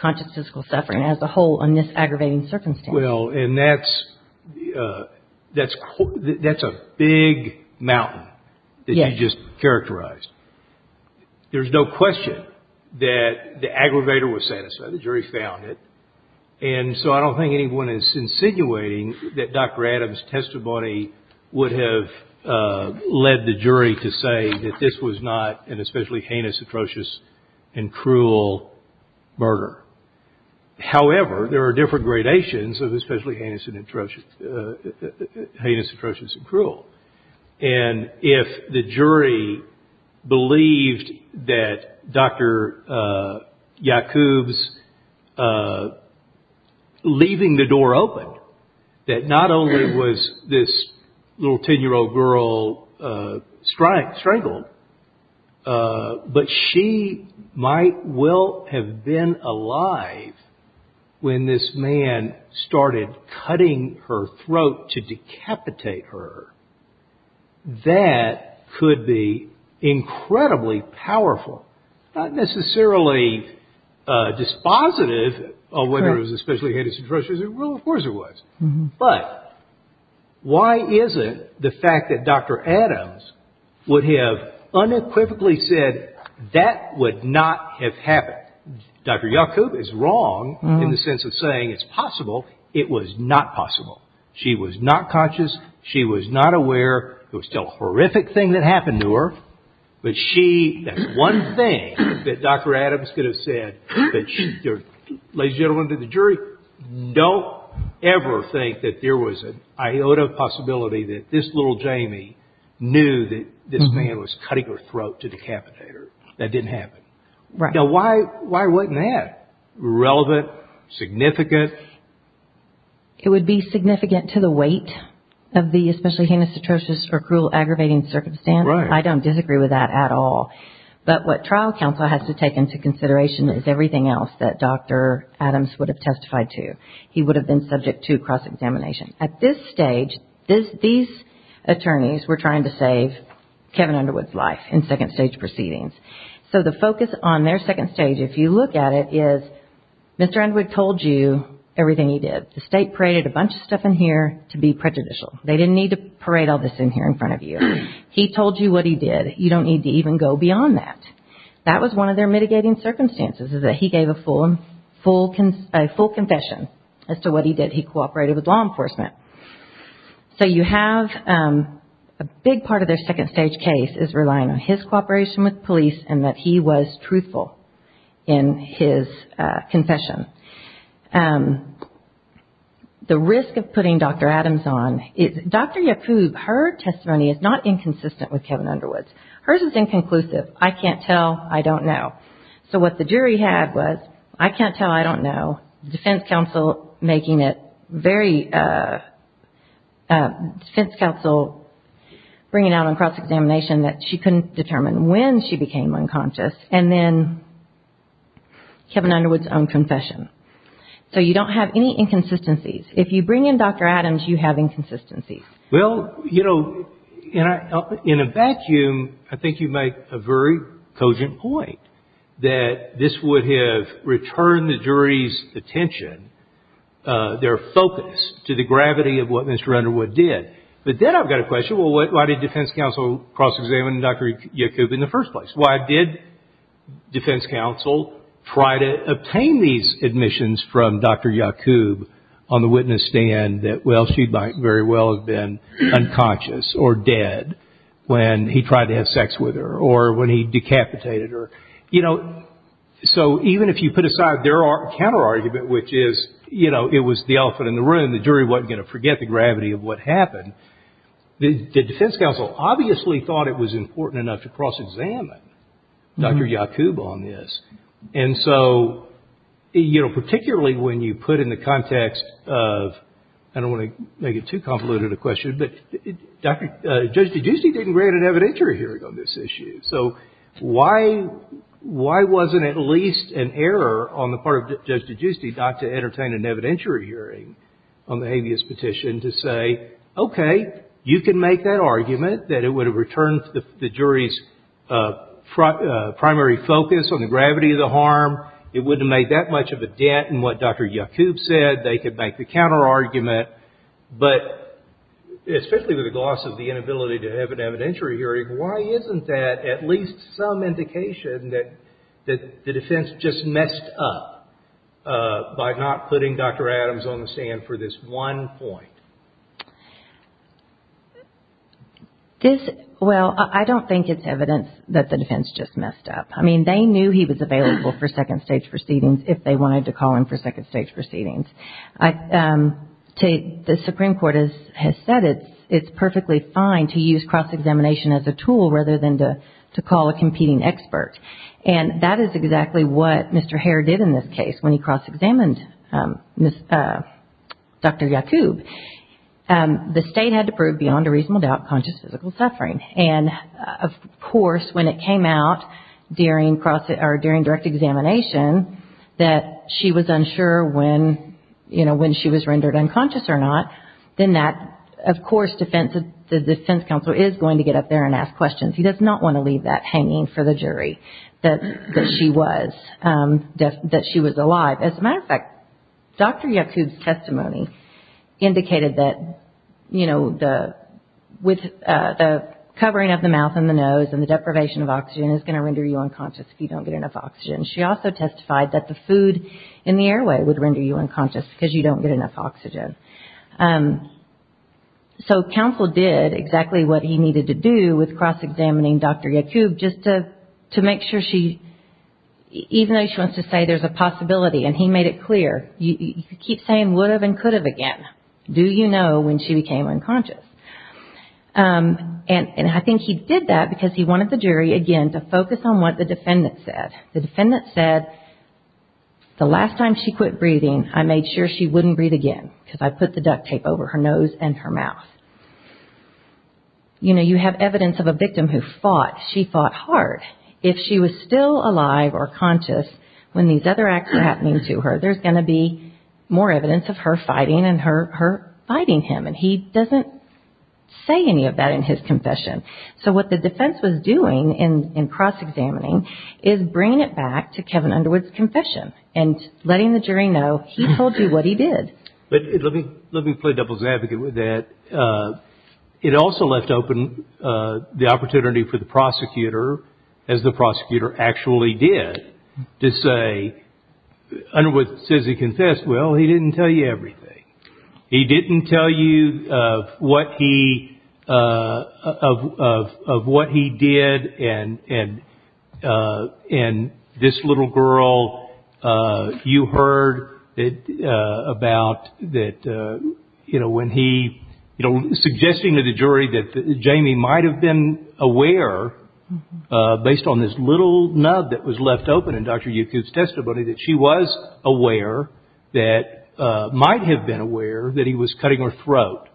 conscious physical suffering as a whole in this aggravating circumstance. Well, and that's a big mountain that you just characterized. There's no question that the aggravator was satisfied. The jury found it. And so I don't think anyone is insinuating that Dr. Adams' testimony would have led the jury to say that this was not an especially heinous atrocious and cruel murder. However, there are different gradations of especially heinous atrocious and cruel. And if the jury believed that Dr. Yacoub's leaving the door open, that not only was this little 10-year-old girl strangled, but she might well have been alive when this man started cutting her throat to decapitate her, that could be incredibly powerful. Not necessarily dispositive of whether it was especially heinous atrocious and cruel. Of course it was. But why is it the fact that Dr. Adams would have unequivocally said that would not have happened? Dr. Yacoub is wrong in the sense of saying it's possible. It was not possible. She was not conscious. She was not aware. There was still a horrific thing that happened to her. That's one thing that Dr. Adams could have said. Ladies and gentlemen of the jury, don't ever think that there was an iota of possibility that this little Jamie knew that this man was cutting her throat to decapitate her. That didn't happen. Now, why wasn't that relevant, significant? It would be significant to the weight of the especially heinous atrocious or cruel aggravating circumstance. I don't disagree with that at all. But what trial counsel has to take into consideration is everything else that Dr. Adams would have testified to. He would have been subject to cross-examination. At this stage, these attorneys were trying to save Kevin Underwood's life in second stage proceedings. So the focus on their second stage, if you look at it, is Mr. Underwood told you everything he did. The State paraded a bunch of stuff in here to be prejudicial. They didn't need to parade all this in here in front of you. He told you what he did. You don't need to even go beyond that. That was one of their mitigating circumstances is that he gave a full confession as to what he did. He cooperated with law enforcement. So you have a big part of their second stage case is relying on his cooperation with police and that he was truthful in his confession. The risk of putting Dr. Adams on is Dr. Yacoub, her testimony is not inconsistent with Kevin Underwood's. Hers is inconclusive. I can't tell. I don't know. So what the jury had was I can't tell, I don't know. Defense counsel making it very, defense counsel bringing out on cross-examination that she couldn't determine when she became unconscious. And then Kevin Underwood's own confession. So you don't have any inconsistencies. If you bring in Dr. Adams, you have inconsistencies. Well, you know, in a vacuum, I think you make a very cogent point that this would have returned the jury's attention, their focus, to the gravity of what Mr. Underwood did. But then I've got a question. Well, why did defense counsel cross-examine Dr. Yacoub in the first place? Why did defense counsel try to obtain these admissions from Dr. Yacoub on the witness stand that, well, she might very well have been unconscious or dead when he tried to have sex with her or when he decapitated her? You know, so even if you put aside their counterargument, which is, you know, it was the elephant in the room, the jury wasn't going to forget the gravity of what happened, the defense counsel obviously thought it was important enough to cross-examine Dr. Yacoub on this. And so, you know, particularly when you put in the context of, I don't want to make it too convoluted a question, but Judge DiGiusti didn't grant an evidentiary hearing on this issue. So why wasn't at least an error on the part of Judge DiGiusti not to entertain an evidentiary hearing on the habeas petition to say, okay, you can make that argument that it would have returned the jury's primary focus on the gravity of the harm. It wouldn't have made that much of a dent in what Dr. Yacoub said. They could make the counterargument. But especially with the loss of the inability to have an evidentiary hearing, why isn't that at least some indication that the defense just messed up by not putting Dr. Adams on the stand for this one point? This, well, I don't think it's evidence that the defense just messed up. I mean, they knew he was available for second stage proceedings if they wanted to call him for second stage proceedings. The Supreme Court has said it's perfectly fine to use cross-examination as a tool rather than to call a competing expert. And that is exactly what Mr. Hare did in this case when he cross-examined Dr. Yacoub. The State had to prove beyond a reasonable doubt conscious physical suffering. And, of course, when it came out during direct examination that she was unsure when she was rendered unconscious or not, then that, of course, the defense counsel is going to get up there and ask questions. He does not want to leave that hanging for the jury that she was alive. As a matter of fact, Dr. Yacoub's testimony indicated that, you know, the covering of the mouth and the nose and the deprivation of oxygen is going to render you unconscious if you don't get enough oxygen. She also testified that the food in the airway would render you unconscious because you don't get enough oxygen. So, counsel did exactly what he needed to do with cross-examining Dr. Yacoub just to make sure she, even though she wants to say there's a possibility and he made it clear. You keep saying would have and could have again. Do you know when she became unconscious? And I think he did that because he wanted the jury, again, to focus on what the defendant said. The defendant said, the last time she quit breathing, I made sure she wouldn't breathe again because I put the duct tape over her nose and her mouth. You know, you have evidence of a victim who fought. She fought hard. If she was still alive or conscious when these other acts were happening to her, there's going to be more evidence of her fighting and her fighting him. And he doesn't say any of that in his confession. So, what the defense was doing in cross-examining is bringing it back to Kevin Underwood's confession and letting the jury know he told you what he did. But let me play doubles advocate with that. It also left open the opportunity for the prosecutor, as the prosecutor actually did, to say, Underwood says he confessed. Well, he didn't tell you everything. He didn't tell you of what he did. And this little girl, you heard about that, you know, when he, you know, suggesting to the jury that Jamie might have been aware, based on this little nub that was left open in Dr. Youkoob's testimony, that she was aware, that might have been aware that he was cutting her throat.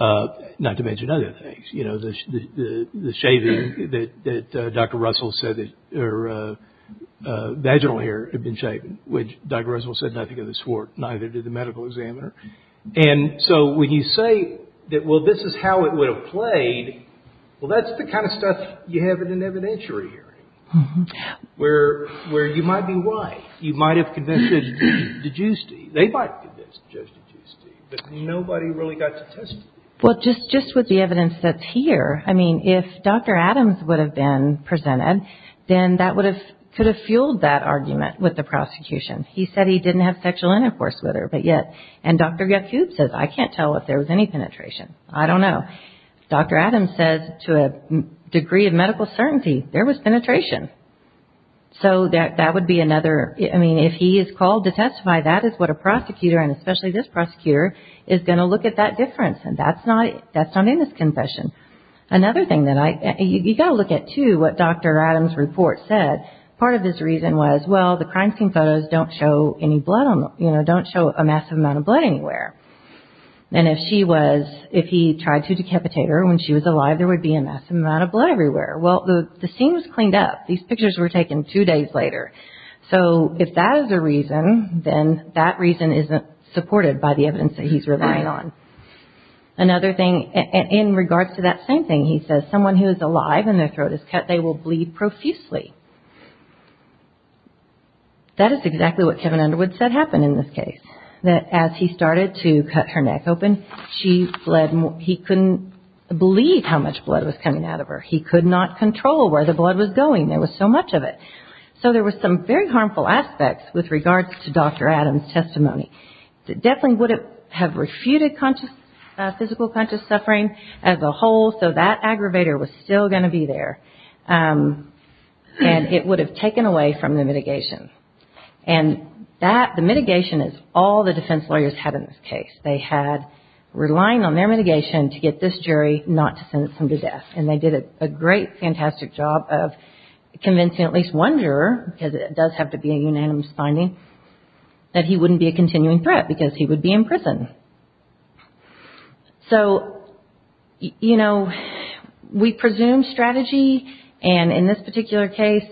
Not to mention other things. You know, the shaving that Dr. Russell said that her vaginal hair had been shaven, which Dr. Russell said nothing of the sort, neither did the medical examiner. And so, when you say that, well, this is how it would have played, well, that's the kind of stuff you have in an evidentiary hearing, where you might be white. You might have convinced Judge DeGiusti. They might have convinced Judge DeGiusti, but nobody really got to testify. Well, just with the evidence that's here, I mean, if Dr. Adams would have been presented, then that would have, could have fueled that argument with the prosecution. He said he didn't have sexual intercourse with her, but yet, and Dr. Youkoob says, I can't tell if there was any penetration. I don't know. Dr. Adams says, to a degree of medical certainty, there was penetration. So, that would be another, I mean, if he is called to testify, that is what a prosecutor, and especially this prosecutor, is going to look at that difference. And that's not, that's not in this confession. Another thing that I, you've got to look at, too, what Dr. Adams' report said. Part of his reason was, well, the crime scene photos don't show any blood on them, you know, don't show a massive amount of blood anywhere. And if she was, if he tried to decapitate her when she was alive, there would be a massive amount of blood everywhere. Well, the scene was cleaned up. These pictures were taken two days later. So, if that is the reason, then that reason isn't supported by the evidence that he's relying on. Another thing, in regards to that same thing, he says, someone who is alive and their throat is cut, they will bleed profusely. That is exactly what Kevin Underwood said happened in this case. That as he started to cut her neck open, she bled more, he couldn't believe how much blood was coming out of her. He could not control where the blood was going. There was so much of it. So, there were some very harmful aspects with regards to Dr. Adams' testimony. It definitely would have refuted conscious, physical conscious suffering as a whole. So, that aggravator was still going to be there. And it would have taken away from the mitigation. And that, the mitigation is all the defense lawyers had in this case. They had relying on their mitigation to get this jury not to sentence him to death. And they did a great, fantastic job of convincing at least one juror, because it does have to be a unanimous finding, that he wouldn't be a continuing threat because he would be in prison. So, you know, we presume strategy, and in this particular case,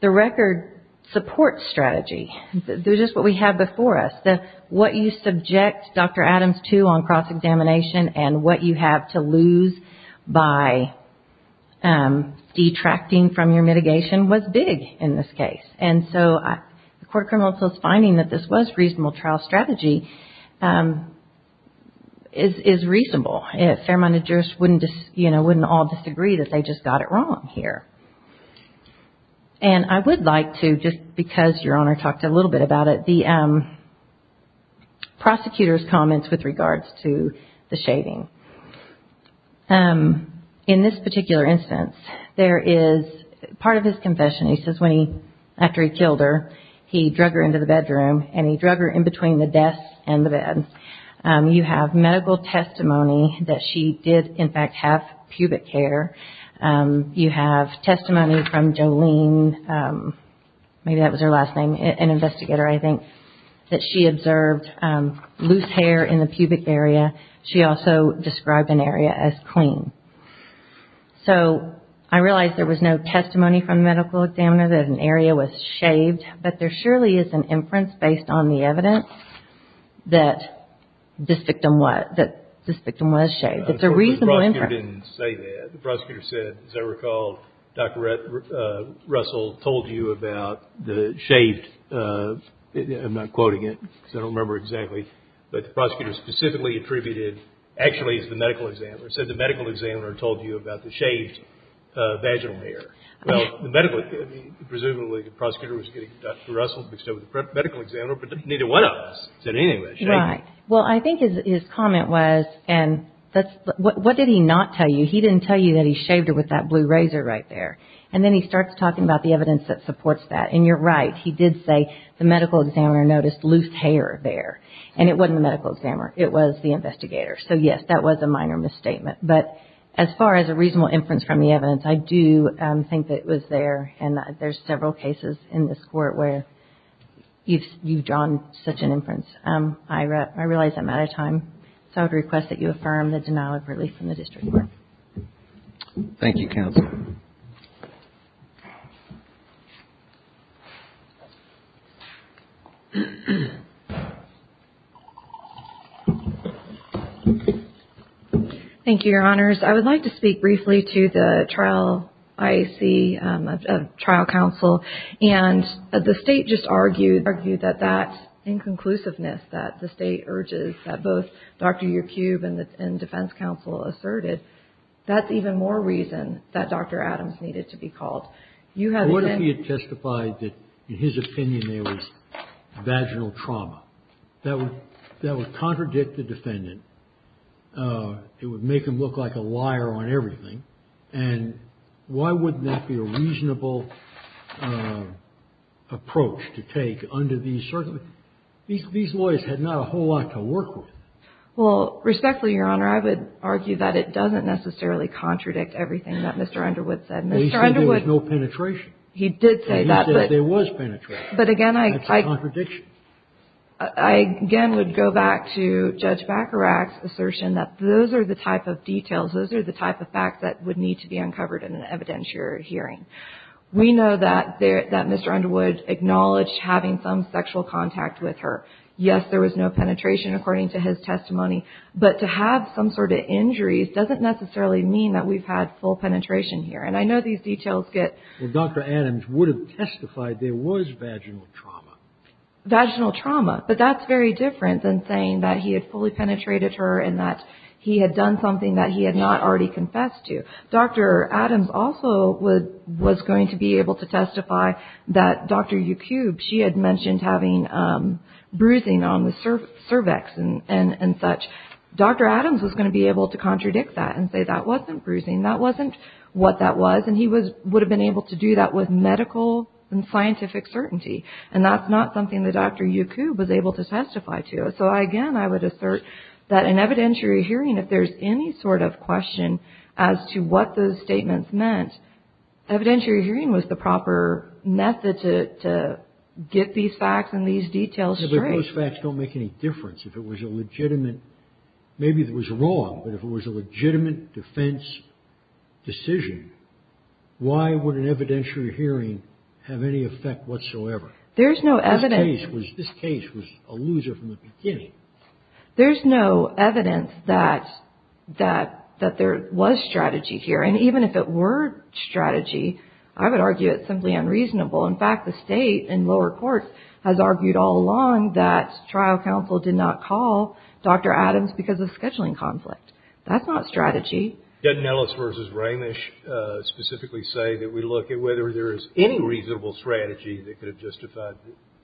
the record supports strategy. This is what we have before us. What you subject Dr. Adams to on cross-examination and what you have to lose by detracting from your mitigation was big in this case. And so, the Court of Criminal Appeals finding that this was reasonable trial strategy is reasonable. A fair-minded jurist wouldn't all disagree that they just got it wrong here. And I would like to, just because Your Honor talked a little bit about it, the prosecutor's comments with regards to the shaving. In this particular instance, there is part of his confession. He says when he, after he killed her, he drug her into the bedroom, and he drug her in between the desk and the bed. You have medical testimony that she did, in fact, have pubic hair. You have testimony from Jolene, maybe that was her last name, an investigator, I think, that she observed loose hair in the pubic area. She also described an area as clean. So, I realize there was no testimony from the medical examiner that an area was shaved, but there surely is an inference based on the evidence that this victim was shaved. It's a reasonable inference. The prosecutor didn't say that. The prosecutor said, as I recall, Dr. Russell told you about the shaved, I'm not quoting it because I don't remember exactly, but the prosecutor specifically attributed, actually, it's the medical examiner, said the medical examiner told you about the shaved vaginal hair. Well, the medical, presumably the prosecutor was getting Dr. Russell mixed up with the medical examiner, but neither one of us said anything about shaving. Right. Well, I think his comment was, and that's, what did he not tell you? He didn't tell you that he shaved her with that blue razor right there. And then he starts talking about the evidence that supports that. And you're right. He did say the medical examiner noticed loose hair there. And it wasn't the medical examiner. It was the investigator. So, yes, that was a minor misstatement. But as far as a reasonable inference from the evidence, I do think that it was there. And there's several cases in this Court where you've drawn such an inference. I realize I'm out of time, so I would request that you affirm the denial of release from the district court. Thank you, counsel. Thank you, Your Honors. I would like to speak briefly to the trial IAC trial counsel. And the State just argued that that inconclusiveness that the State urges that both Dr. Adams needed to be called. What if he had testified that in his opinion there was vaginal trauma? That would contradict the defendant. It would make him look like a liar on everything. And why wouldn't that be a reasonable approach to take under these circumstances? These lawyers had not a whole lot to work with. Well, respectfully, Your Honor, I would argue that it doesn't necessarily contradict everything that Mr. Underwood said. Mr. Underwood. He said there was no penetration. He did say that, but. He said there was penetration. But again, I. That's a contradiction. I again would go back to Judge Baccarat's assertion that those are the type of details, those are the type of facts that would need to be uncovered in an evidentiary hearing. We know that Mr. Underwood acknowledged having some sexual contact with her. Yes, there was no penetration according to his testimony. But to have some sort of injuries doesn't necessarily mean that we've had full penetration here. And I know these details get. Well, Dr. Adams would have testified there was vaginal trauma. Vaginal trauma. But that's very different than saying that he had fully penetrated her and that he had done something that he had not already confessed to. Dr. Adams also was going to be able to testify that Dr. Yacoub, she had mentioned having bruising on the cervix and such. Dr. Adams was going to be able to contradict that and say that wasn't bruising, that wasn't what that was. And he would have been able to do that with medical and scientific certainty. And that's not something that Dr. Yacoub was able to testify to. So, again, I would assert that an evidentiary hearing, if there's any sort of question as to what those statements meant, evidentiary hearing was the proper method to get these facts and these details straight. But if those facts don't make any difference, if it was a legitimate, maybe it was wrong, but if it was a legitimate defense decision, why would an evidentiary hearing have any effect whatsoever? There's no evidence. This case was a loser from the beginning. There's no evidence that there was strategy here. And even if it were strategy, I would argue it's simply unreasonable. In fact, the State in lower courts has argued all along that trial counsel did not call Dr. Adams because of scheduling conflict. That's not strategy. Didn't Ellis v. Ramish specifically say that we look at whether there is any reasonable strategy that could have justified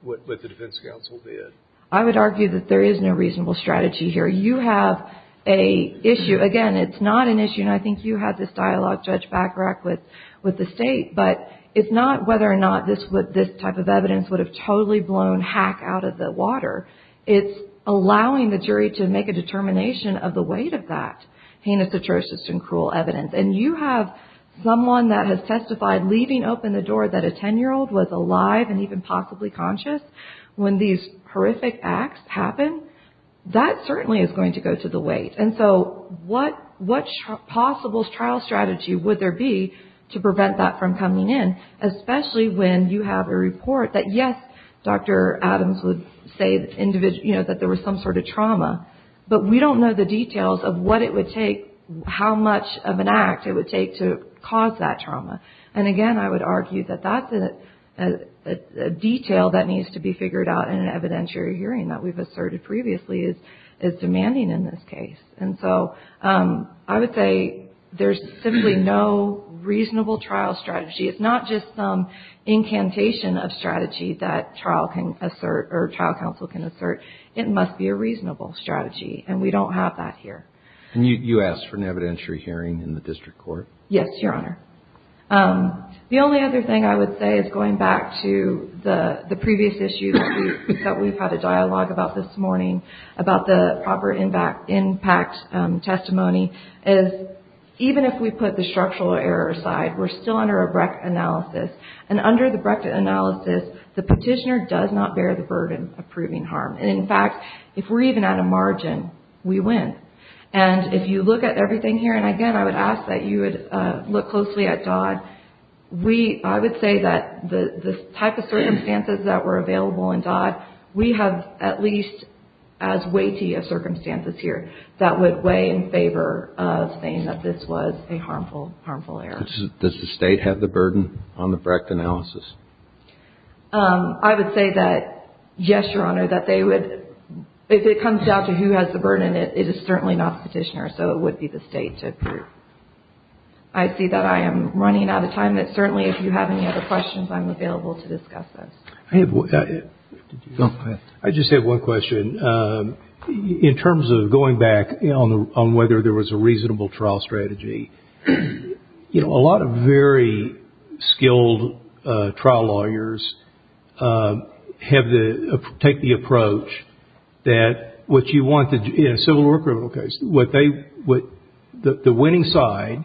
what the defense counsel did? I would argue that there is no reasonable strategy here. You have an issue. Again, it's not an issue, and I think you had this dialogue, Judge Bachrach, with the State. But it's not whether or not this type of evidence would have totally blown Hack out of the water. It's allowing the jury to make a determination of the weight of that heinous, atrocious, and cruel evidence. And you have someone that has testified, leaving open the door, that a 10-year-old was alive and even possibly conscious. When these horrific acts happen, that certainly is going to go to the weight. And so what possible trial strategy would there be to prevent that from coming in, especially when you have a report that, yes, Dr. Adams would say that there was some sort of trauma, but we don't know the details of what it would take, how much of an act it would take to cause that trauma. And again, I would argue that that's a detail that needs to be figured out in an evidentiary hearing that we've asserted previously is demanding in this case. And so I would say there's simply no reasonable trial strategy. It's not just some incantation of strategy that trial counsel can assert. It must be a reasonable strategy, and we don't have that here. And you asked for an evidentiary hearing in the district court? Yes, Your Honor. The only other thing I would say is going back to the previous issue that we've had a dialogue about this morning, about the proper impact testimony, is even if we put the structural error aside, we're still under a Brecht analysis. And under the Brecht analysis, the petitioner does not bear the burden of proving harm. And in fact, if we're even at a margin, we win. And if you look at everything here, and again, I would ask that you would look closely at Dodd. I would say that the type of circumstances that were available in Dodd, we have at least as weighty of circumstances here that would weigh in favor of saying that this was a harmful error. Does the State have the burden on the Brecht analysis? I would say that, yes, Your Honor, that they would. If it comes down to who has the burden, it is certainly not the petitioner, so it would be the State to approve. I see that I am running out of time, but certainly if you have any other questions, I'm available to discuss those. I have one. Go ahead. I just have one question. In terms of going back on whether there was a reasonable trial strategy, you know, a lot of very skilled trial lawyers take the approach that what you want in a civil or criminal case, the winning side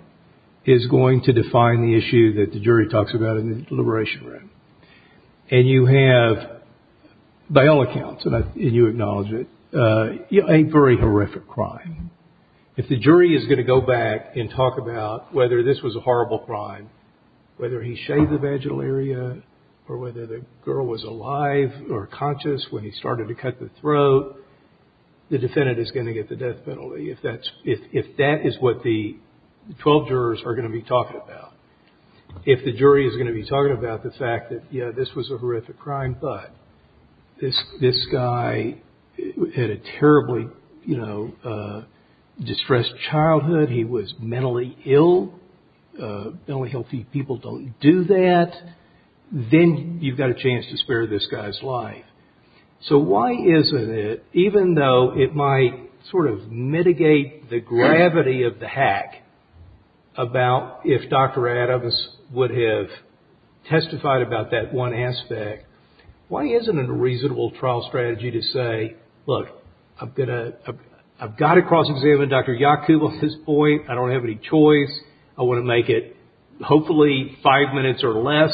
is going to define the issue that the jury talks about in the deliberation room. And you have, by all accounts, and you acknowledge it, a very horrific crime. If the jury is going to go back and talk about whether this was a horrible crime, whether he shaved the vaginal area or whether the girl was alive or conscious when he started to cut the throat, the defendant is going to get the death penalty, if that is what the 12 jurors are going to be talking about. If the jury is going to be talking about the fact that, yes, this was a horrific crime, but this guy had a terribly, you know, distressed childhood. He was mentally ill. Only healthy people don't do that. Then you've got a chance to spare this guy's life. So why isn't it, even though it might sort of mitigate the gravity of the hack, about if Dr. Adams would have testified about that one aspect, why isn't it a reasonable trial strategy to say, look, I've got to cross-examine Dr. Yacoub at this point. I don't have any choice. I want to make it hopefully five minutes or less,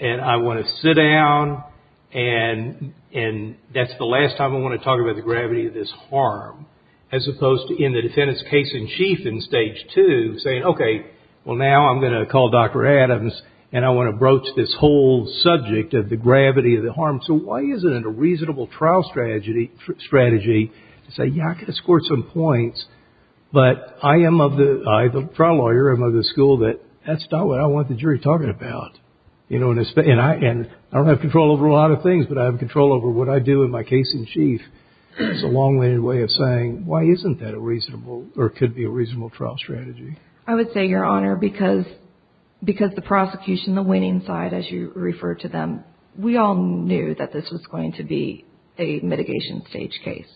and I want to sit down, and that's the last time I want to talk about the gravity of this harm, as opposed to in the defendant's case-in-chief in Stage 2 saying, okay, well, now I'm going to call Dr. Adams, and I want to broach this whole subject of the gravity of the harm. So why isn't it a reasonable trial strategy to say, yeah, I can escort some points, but I am of the – I, the trial lawyer, am of the school that that's not what I want the jury talking about, you know, and I don't have control over a lot of things, but I have control over what I do in my case-in-chief. It's a long-winded way of saying why isn't that a reasonable or could be a reasonable trial strategy. I would say, Your Honor, because the prosecution, the winning side, as you referred to them, we all knew that this was going to be a mitigation stage case.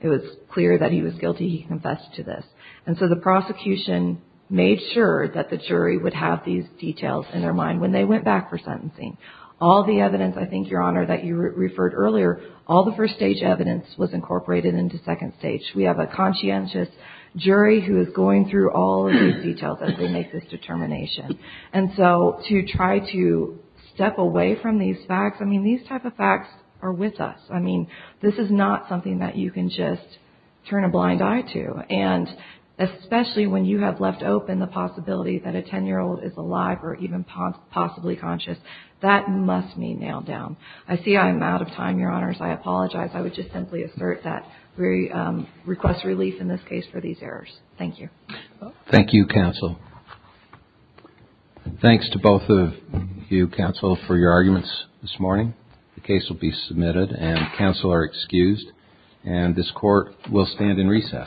It was clear that he was guilty. He confessed to this. And so the prosecution made sure that the jury would have these details in their mind when they went back for sentencing. All the evidence, I think, Your Honor, that you referred earlier, all the first-stage evidence was incorporated into second stage. We have a conscientious jury who is going through all of these details as they make this determination. And so to try to step away from these facts, I mean, these type of facts are with us. I mean, this is not something that you can just turn a blind eye to. And especially when you have left open the possibility that a 10-year-old is alive or even possibly conscious, that must be nailed down. I see I'm out of time, Your Honors. I apologize. I would just simply assert that we request relief in this case for these errors. Thank you. Thank you, counsel. Thanks to both of you, counsel, for your arguments this morning. The case will be submitted and counsel are excused. And this Court will stand in recess. Thank you.